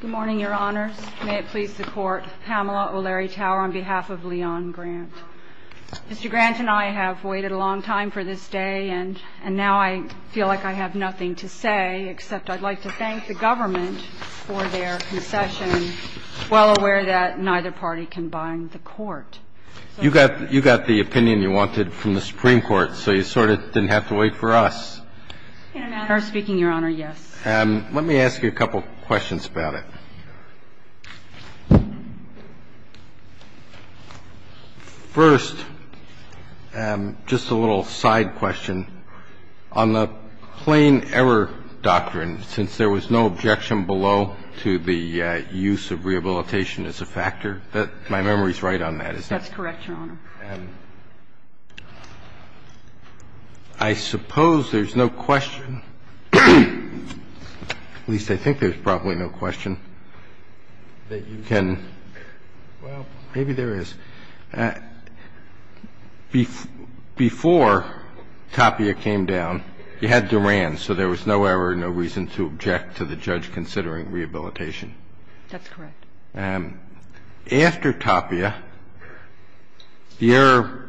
Good morning, Your Honors. May it please the Court, Pamela O'Leary Tower on behalf of Leon Grant. Mr. Grant and I have waited a long time for this day, and now I feel like I have nothing to say except I'd like to thank the government for their concession, well aware that neither party can bind the Court. You got the opinion you wanted from the Supreme Court, so you sort of didn't have to wait for us. In a matter of speaking, Your Honor, yes. Let me ask you a couple of questions about it. First, just a little side question. On the plain error doctrine, since there was no objection below to the use of rehabilitation as a factor, my memory is right on that, isn't it? That's correct, Your Honor. I suppose there's no question, at least I think there's probably no question, that you can – well, maybe there is. Before Tapia came down, you had Duran, so there was no error, no reason to object to the judge considering rehabilitation. That's correct. After Tapia, the error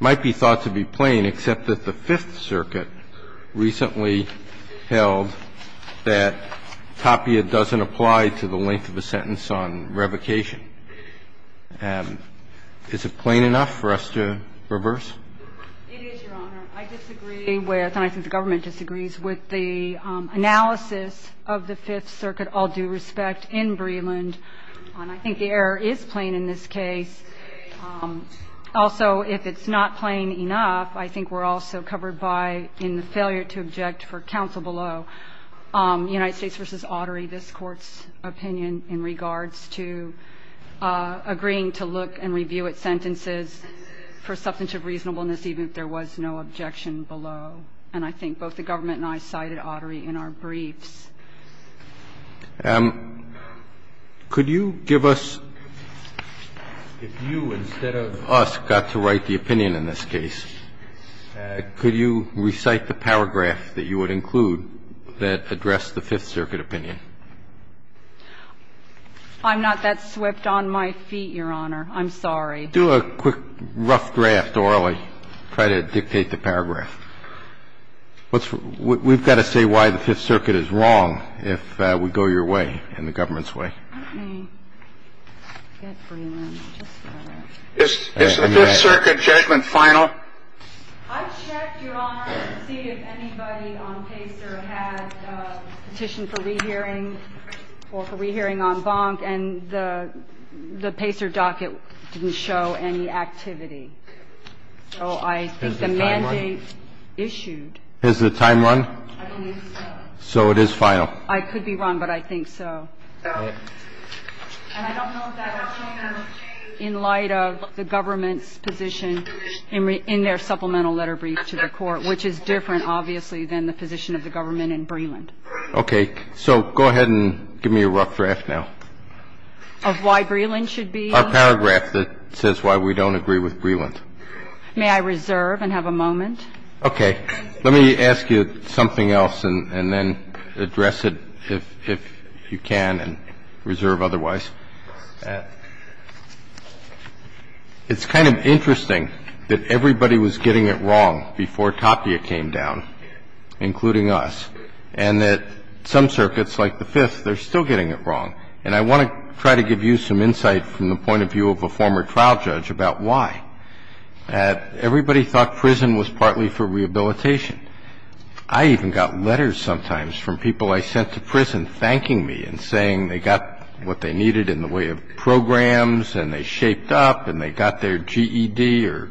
might be thought to be plain, except that the Fifth Circuit recently held that Tapia doesn't apply to the length of a sentence on revocation. Is it plain enough for us to reverse? It is, Your Honor. I disagree with, and I think the government disagrees with the analysis of the Fifth Circuit, all due respect, in Breland, and I think the error is plain in this case. Also, if it's not plain enough, I think we're also covered by, in the failure to object for counsel below, United States v. Autry, this Court's opinion in regards to agreeing to look and review its sentences for substantive reasonableness even if there was no objection below, and I think both the government and I cited Autry in our briefs. Could you give us – if you instead of us got to write the opinion in this case, could you recite the paragraph that you would include that addressed the Fifth Circuit opinion? I'm not that swept on my feet, Your Honor. I'm sorry. Do a quick rough draft orally. Try to dictate the paragraph. We've got to say why the Fifth Circuit is wrong if we go your way and the government's Okay. Is the Fifth Circuit judgment final? I checked, Your Honor, to see if anybody on PACER had a petition for rehearing or for rehearing en banc, and the PACER docket didn't show any activity. So I think the mandate issued. Has the time run? So it is final. I could be wrong, but I think so. And I don't know that I've seen them in light of the government's position in their supplemental letter brief to the Court, which is different, obviously, than the position of the government in Breland. Okay. So go ahead and give me a rough draft now. Of why Breland should be? Our paragraph that says why we don't agree with Breland. May I reserve and have a moment? Okay. Let me ask you something else and then address it if you can and reserve otherwise. It's kind of interesting that everybody was getting it wrong before Tapia came down, including us, and that some circuits, like the Fifth, they're still getting it wrong. And I want to try to give you some insight from the point of view of a former trial judge about why. I think the first thing you have to be clear about is the reason why you're getting it wrong. Everybody thought prison was partly for rehabilitation. I even got letters sometimes from people I sent to prison thanking me and saying they got what they needed in the way of programs and they shaped up and they got their GED or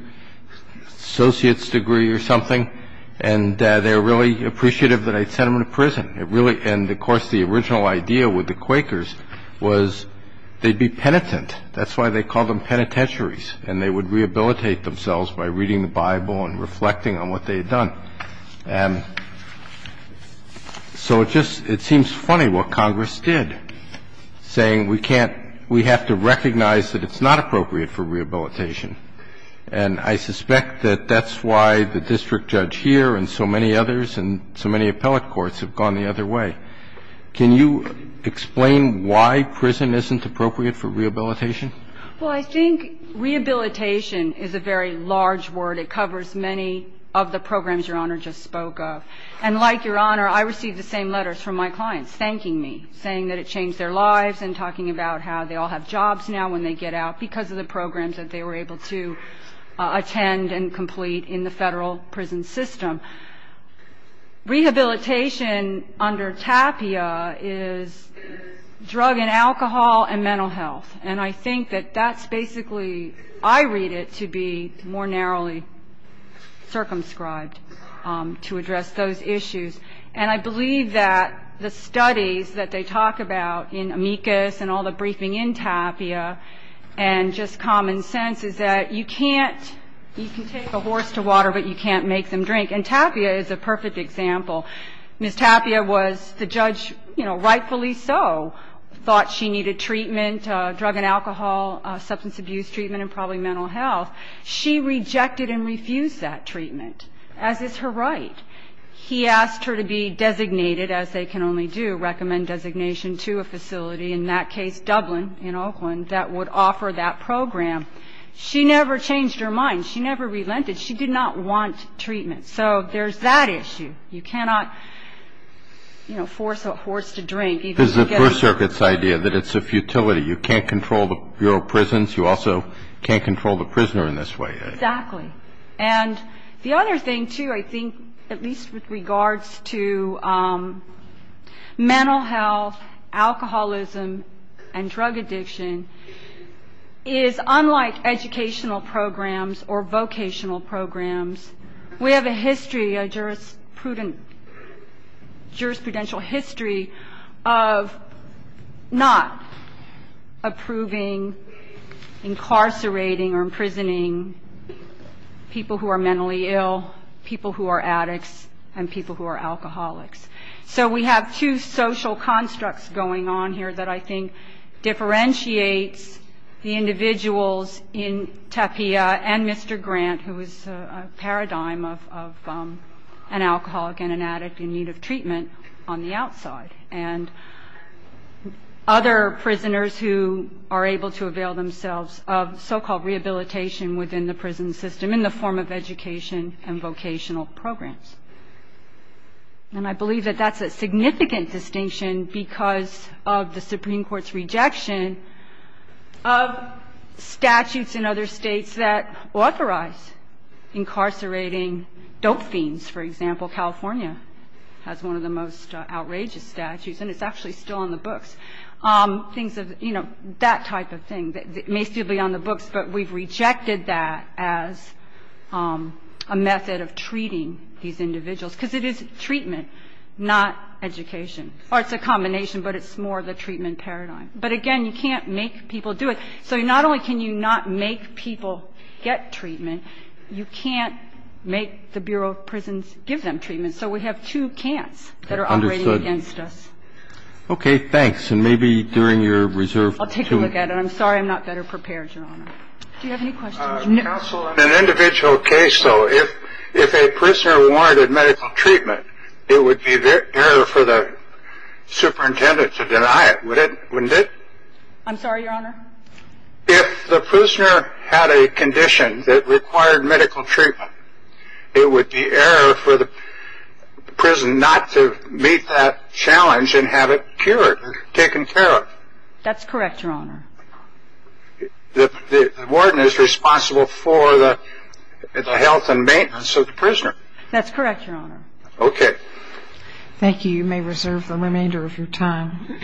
associate's degree or something and they were really appreciative that I'd sent them to prison. And of course the original idea with the Quakers was they'd be penitent. That's why they called them penitentiaries and they would rehabilitate themselves by reading the Bible and reflecting on what they had done. And so it seems funny what Congress did saying we have to recognize that it's not appropriate for rehabilitation. And I suspect that that's why the district judge here and so many others and so many appellate courts have gone the other way. Can you explain why prison isn't appropriate for rehabilitation? Well, I think rehabilitation is a very large word. It covers many of the programs Your Honor just spoke of. And like Your Honor, I received the same letters from my clients thanking me, saying that it changed their lives and talking about how they all have jobs now when they get out because of the programs that they were able to attend and complete in the Federal prison system. Rehabilitation under TAPIA is drug and alcohol and mental health. And I think that that's basically, I read it to be more narrowly circumscribed to address those issues. And I believe that the studies that they talk about in amicus and all the briefing in TAPIA and just common sense is that you can take a horse to water but you can't make them drink. And TAPIA is a perfect example. Ms. TAPIA was the judge, you know, rightfully so, thought she needed treatment, drug and alcohol, substance abuse treatment and probably mental health. She rejected and refused that treatment, as is her right. He asked her to be designated, as they can only do, recommend designation to a facility, in that case Dublin in Oakland, that would offer that program. She never changed her mind. She never relented. She did not want treatment. So there's that issue. You cannot, you know, force a horse to drink. Because of the First Circuit's idea that it's a futility. You can't control your prisons. You also can't control the prisoner in this way. Exactly. And the other thing, too, I think, at least with regards to mental health, alcoholism and drug addiction, is unlike educational programs or vocational programs, we have a history, a jurisprudential history of not approving, incarcerating or imprisoning people who are mentally ill, people who are addicts and people who are alcoholics. So we have two social constructs going on here that I think differentiates the individuals in TAPIA and Mr. Grant, who is a paradigm of an alcoholic and an addict in need of treatment on the outside, and other prisoners who are able to avail themselves of so-called rehabilitation within the prison system in the form of education and vocational programs. And I believe that that's a significant distinction because of the Supreme Court's rejection of statutes in other states that authorize incarcerating dope fiends. For example, California has one of the most outrageous statutes, and it's actually still on the books. Things of, you know, that type of thing. It may still be on the books, but we've rejected that as a method of treating these individuals. Because it is treatment, not education. Or it's a combination, but it's more the treatment paradigm. But, again, you can't make people do it. So not only can you not make people get treatment, you can't make the Bureau of Prisons give them treatment. So we have two can'ts that are operating against us. Okay. Thanks. And maybe during your reserve period. I'll take a look at it. I'm sorry I'm not better prepared, Your Honor. Do you have any questions? Counsel, in an individual case, though, if a prisoner wanted medical treatment, it would be fair for the superintendent to deny it, wouldn't it? I'm sorry, Your Honor? If the prisoner had a condition that required medical treatment, it would be error for the prison not to meet that challenge and have it cured or taken care of. That's correct, Your Honor. The warden is responsible for the health and maintenance of the prisoner. That's correct, Your Honor. Okay. Thank you. You may reserve the remainder of your time.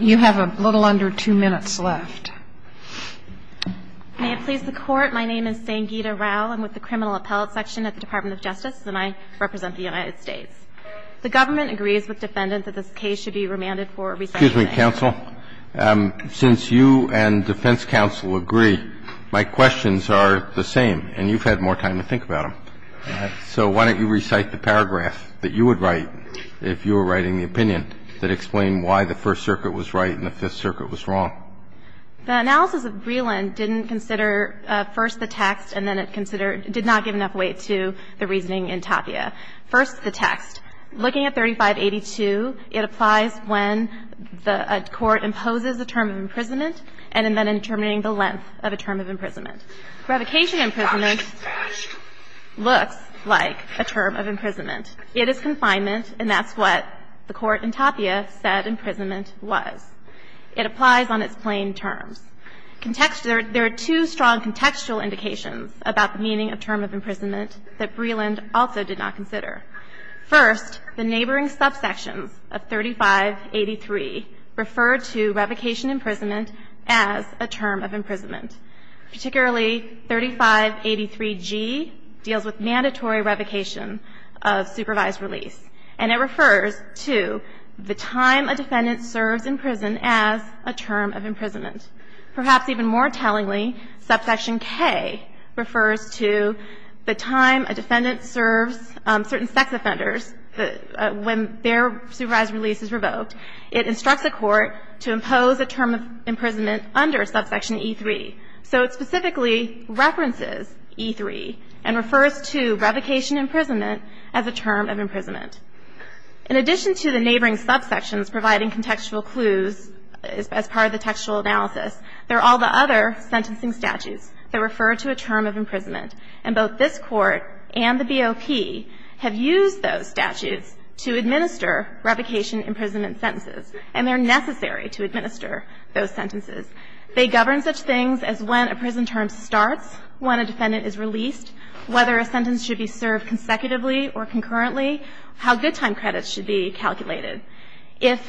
You have a little under two minutes left. May it please the Court. My name is Sangeeta Rao. I'm with the Criminal Appellate Section at the Department of Justice, and I represent the United States. The government agrees with defendants that this case should be remanded for a recession. Excuse me, counsel. Since you and defense counsel agree, my questions are the same, and you've had more time to think about them. So why don't you recite the paragraph that you would write if you were writing the opinion that explained why the First Circuit was right and the Fifth Circuit was wrong. The analysis of Breland didn't consider first the text and then it considered did not give enough weight to the reasoning in Tapia. First, the text. Looking at 3582, it applies when a court imposes a term of imprisonment and then in determining the length of a term of imprisonment. Revocation imprisonment looks like a term of imprisonment. It is confinement, and that's what the court in Tapia said imprisonment was. It applies on its plain terms. There are two strong contextual indications about the meaning of term of imprisonment that Breland also did not consider. First, the neighboring subsections of 3583 refer to revocation imprisonment as a term of imprisonment, particularly 3583G deals with mandatory revocation of supervised release. And it refers to the time a defendant serves in prison as a term of imprisonment. Perhaps even more tellingly, subsection K refers to the time a defendant serves certain sex offenders when their supervised release is revoked. It instructs a court to impose a term of imprisonment under subsection E3. So it specifically references E3 and refers to revocation imprisonment as a term of imprisonment. In addition to the neighboring subsections providing contextual clues as part of the textual analysis, there are all the other sentencing statutes that refer to a term of imprisonment. And both this Court and the BOP have used those statutes to administer revocation imprisonment sentences, and they're necessary to administer those sentences. They govern such things as when a prison term starts, when a defendant is released, whether a sentence should be served consecutively or concurrently, how good time credits should be calculated. If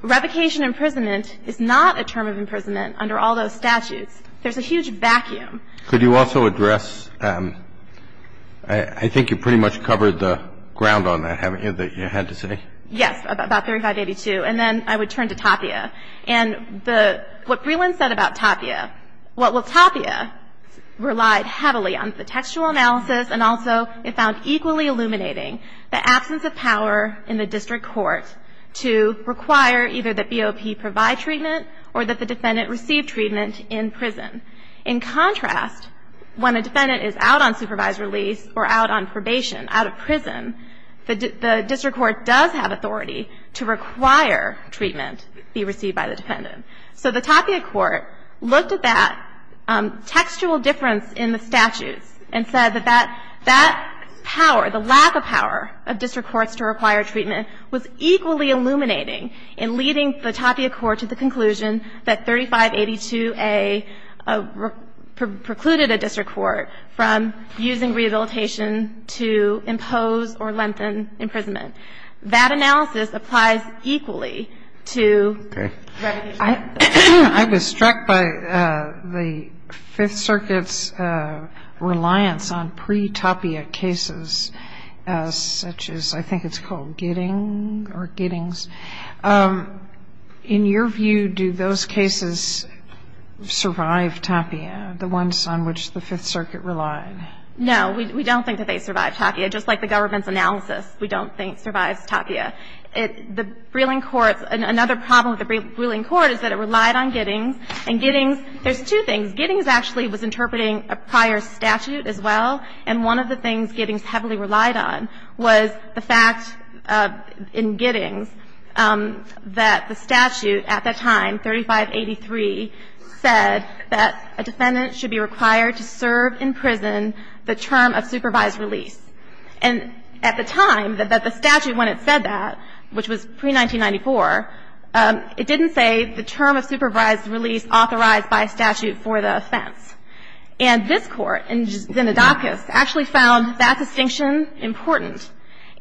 revocation imprisonment is not a term of imprisonment under all those statutes, there's a huge vacuum. Could you also address – I think you pretty much covered the ground on that, haven't you, that you had to say? Yes, about 3582. And then I would turn to Tapia. And the – what Breland said about Tapia, well, Tapia relied heavily on the textual analysis and also it found equally illuminating the absence of power in the district court to require either that BOP provide treatment or that the defendant receive treatment in prison. In contrast, when a defendant is out on supervised release or out on probation, out of prison, the district court does have authority to require treatment be received by the defendant. So the Tapia court looked at that textual difference in the statutes and said that that power, the lack of power of district courts to require treatment was equally illuminating in leading the Tapia court to the conclusion that 3582A precluded a district court from using rehabilitation to impose or lengthen imprisonment. That analysis applies equally to revocation. Okay. I was struck by the Fifth Circuit's reliance on pre-Tapia cases such as I think it's called Gidding or Giddings. In your view, do those cases survive Tapia, the ones on which the Fifth Circuit relied? No. We don't think that they survive Tapia. Just like the government's analysis, we don't think survives Tapia. The Breland courts – another problem with the Breland court is that it relied on Giddings, and Giddings – there's two things. Giddings actually was interpreting a prior statute as well, and one of the things in Giddings that the statute at that time, 3583, said that a defendant should be required to serve in prison the term of supervised release. And at the time that the statute, when it said that, which was pre-1994, it didn't say the term of supervised release authorized by statute for the offense. And this Court, in Zenodocus, actually found that distinction important.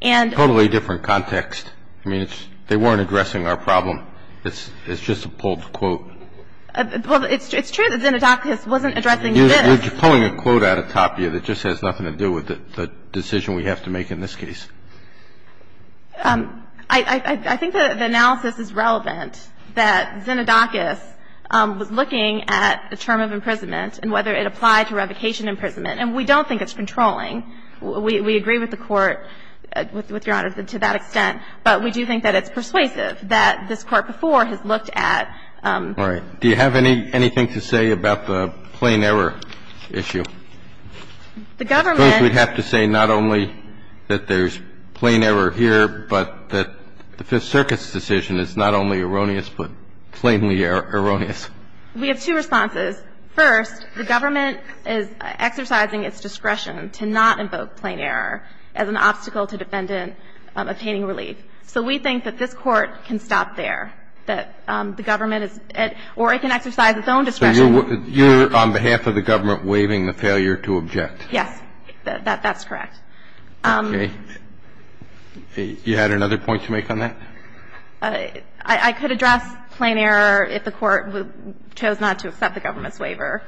It's a totally different context. I mean, they weren't addressing our problem. It's just a pulled quote. Well, it's true that Zenodocus wasn't addressing this. You're pulling a quote out of Tapia that just has nothing to do with the decision we have to make in this case. I think the analysis is relevant that Zenodocus was looking at the term of imprisonment and whether it applied to revocation imprisonment. And we don't think it's controlling. We agree with the Court, with Your Honor, to that extent. But we do think that it's persuasive that this Court before has looked at. All right. Do you have anything to say about the plain error issue? The government. I suppose we'd have to say not only that there's plain error here, but that the Fifth Circuit's decision is not only erroneous, but plainly erroneous. We have two responses. First, the government is exercising its discretion to not invoke plain error as an obstacle to defendant obtaining relief. So we think that this Court can stop there, that the government is at or it can exercise its own discretion. So you're on behalf of the government waiving the failure to object? Yes. That's correct. Okay. You had another point to make on that? I could address plain error if the Court chose not to accept the government's waiver.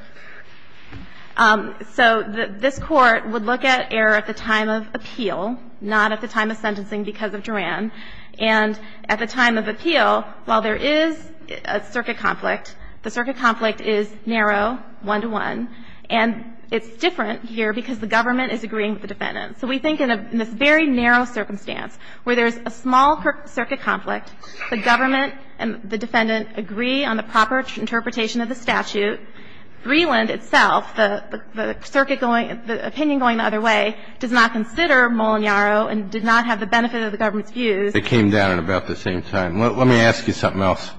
So this Court would look at error at the time of appeal, not at the time of sentencing because of Duran. And at the time of appeal, while there is a circuit conflict, the circuit conflict is narrow, one-to-one. And it's different here because the government is agreeing with the defendant. So we think in this very narrow circumstance where there's a small circuit conflict, the government and the defendant agree on the proper interpretation of the statute, Greeland itself, the circuit going, the opinion going the other way, does not consider Molineiro and did not have the benefit of the government's views. It came down at about the same time. Let me ask you something else.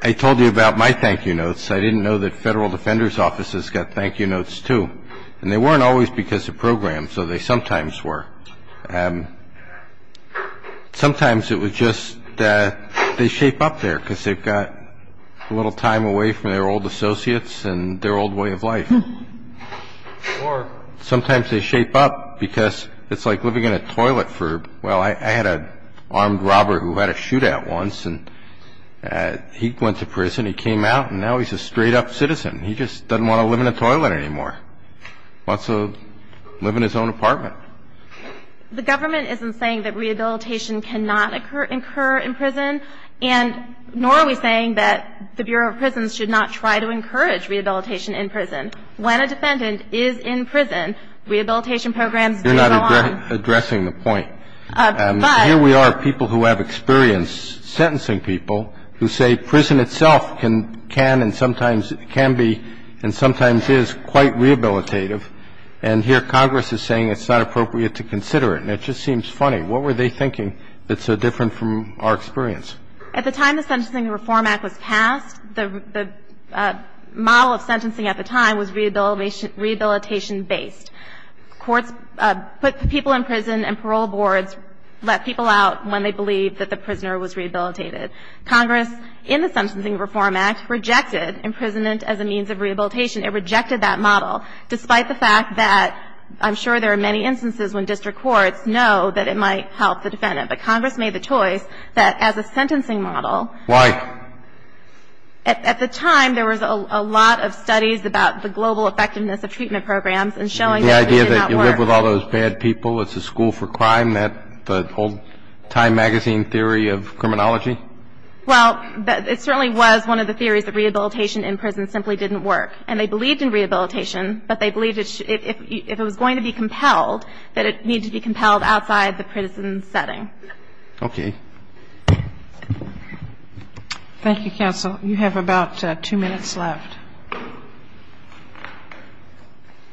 I told you about my thank-you notes. I didn't know that federal defenders' offices got thank-you notes, too. And they weren't always because of programs, though they sometimes were. Sometimes it was just they shape up there because they've got a little time away from their old associates and their old way of life. Or sometimes they shape up because it's like living in a toilet for, well, I had an armed robber who had a shootout once, and he went to prison. He came out, and now he's a straight-up citizen. He just doesn't want to live in a toilet anymore. He wants to live in his own apartment. The government isn't saying that rehabilitation cannot occur in prison, and nor are we saying that the Bureau of Prisons should not try to encourage rehabilitation in prison. When a defendant is in prison, rehabilitation programs do go on. You're not addressing the point. But here we are, people who have experience sentencing people who say prison itself can and sometimes can be and sometimes is quite rehabilitative, and here Congress is saying it's not appropriate to consider it. And it just seems funny. What were they thinking that's so different from our experience? At the time the Sentencing Reform Act was passed, the model of sentencing at the time was rehabilitation-based. Courts put people in prison, and parole boards let people out when they believed that the prisoner was rehabilitated. Congress, in the Sentencing Reform Act, rejected imprisonment as a means of rehabilitation. It rejected that model, despite the fact that I'm sure there are many instances when district courts know that it might help the defendant. But Congress made the choice that as a sentencing model. Why? At the time, there was a lot of studies about the global effectiveness of treatment programs and showing that it did not work. The idea that you live with all those bad people, it's a school for crime, that the whole Time Magazine theory of criminology? Well, it certainly was one of the theories that rehabilitation in prison simply didn't work. And they believed in rehabilitation, but they believed if it was going to be compelled, that it needed to be compelled outside the prison setting. Okay. Thank you, counsel. You have about two minutes left.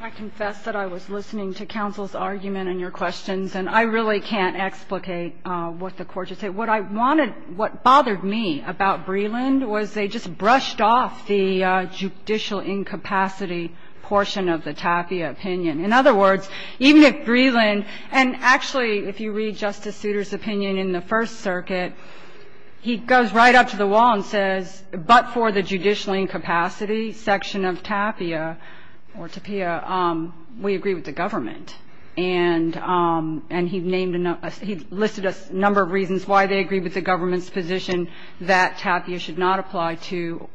I confess that I was listening to counsel's argument and your questions, and I really can't explicate what the Court just said. What I wanted, what bothered me about Breland was they just brushed off the judicial incapacity portion of the Tapia opinion. In other words, even if Breland, and actually if you read Justice Souter's opinion in the First Circuit, he goes right up to the wall and says, but for the judicial incapacity section of Tapia, we agree with the government. And he listed a number of reasons why they agree with the government's position that Tapia should not apply to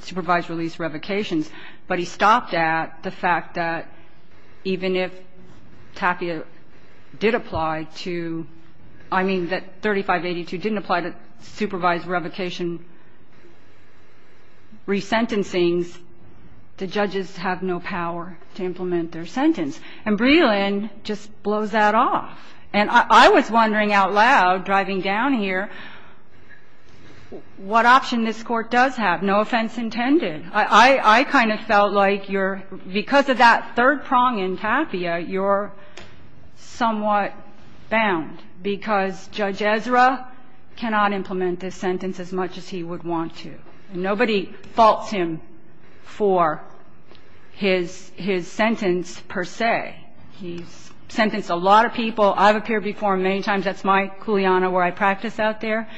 supervised release revocations. But he stopped at the fact that even if Tapia did apply to, I mean that 3582 didn't apply to supervised revocation resentencings, the judges have no power to implement their sentence. And Breland just blows that off. And I was wondering out loud, driving down here, what option this Court does have. No offense intended. I kind of felt like you're, because of that third prong in Tapia, you're somewhat bound, because Judge Ezra cannot implement this sentence as much as he would want to, and nobody faults him for his sentence per se. He's sentenced a lot of people. I've appeared before him many times. That's my kuleana where I practice out there.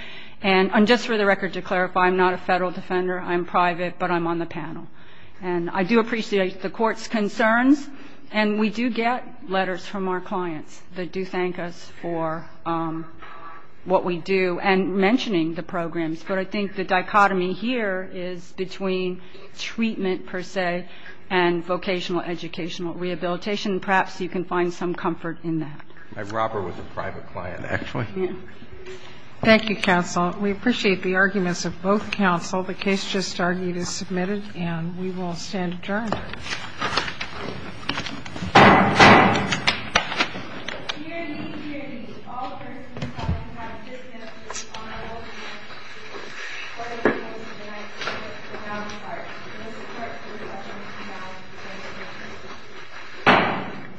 And just for the record, to clarify, I'm not a Federal defender. I'm private, but I'm on the panel. And I do appreciate the Court's concerns, and we do get letters from our clients that do thank us for what we do and mentioning the programs. But I think the dichotomy here is between treatment per se and vocational educational rehabilitation. Perhaps you can find some comfort in that. My robber was a private client, actually. Thank you, counsel. We appreciate the arguments of both counsel. The case just argued is submitted, and we will stand adjourned.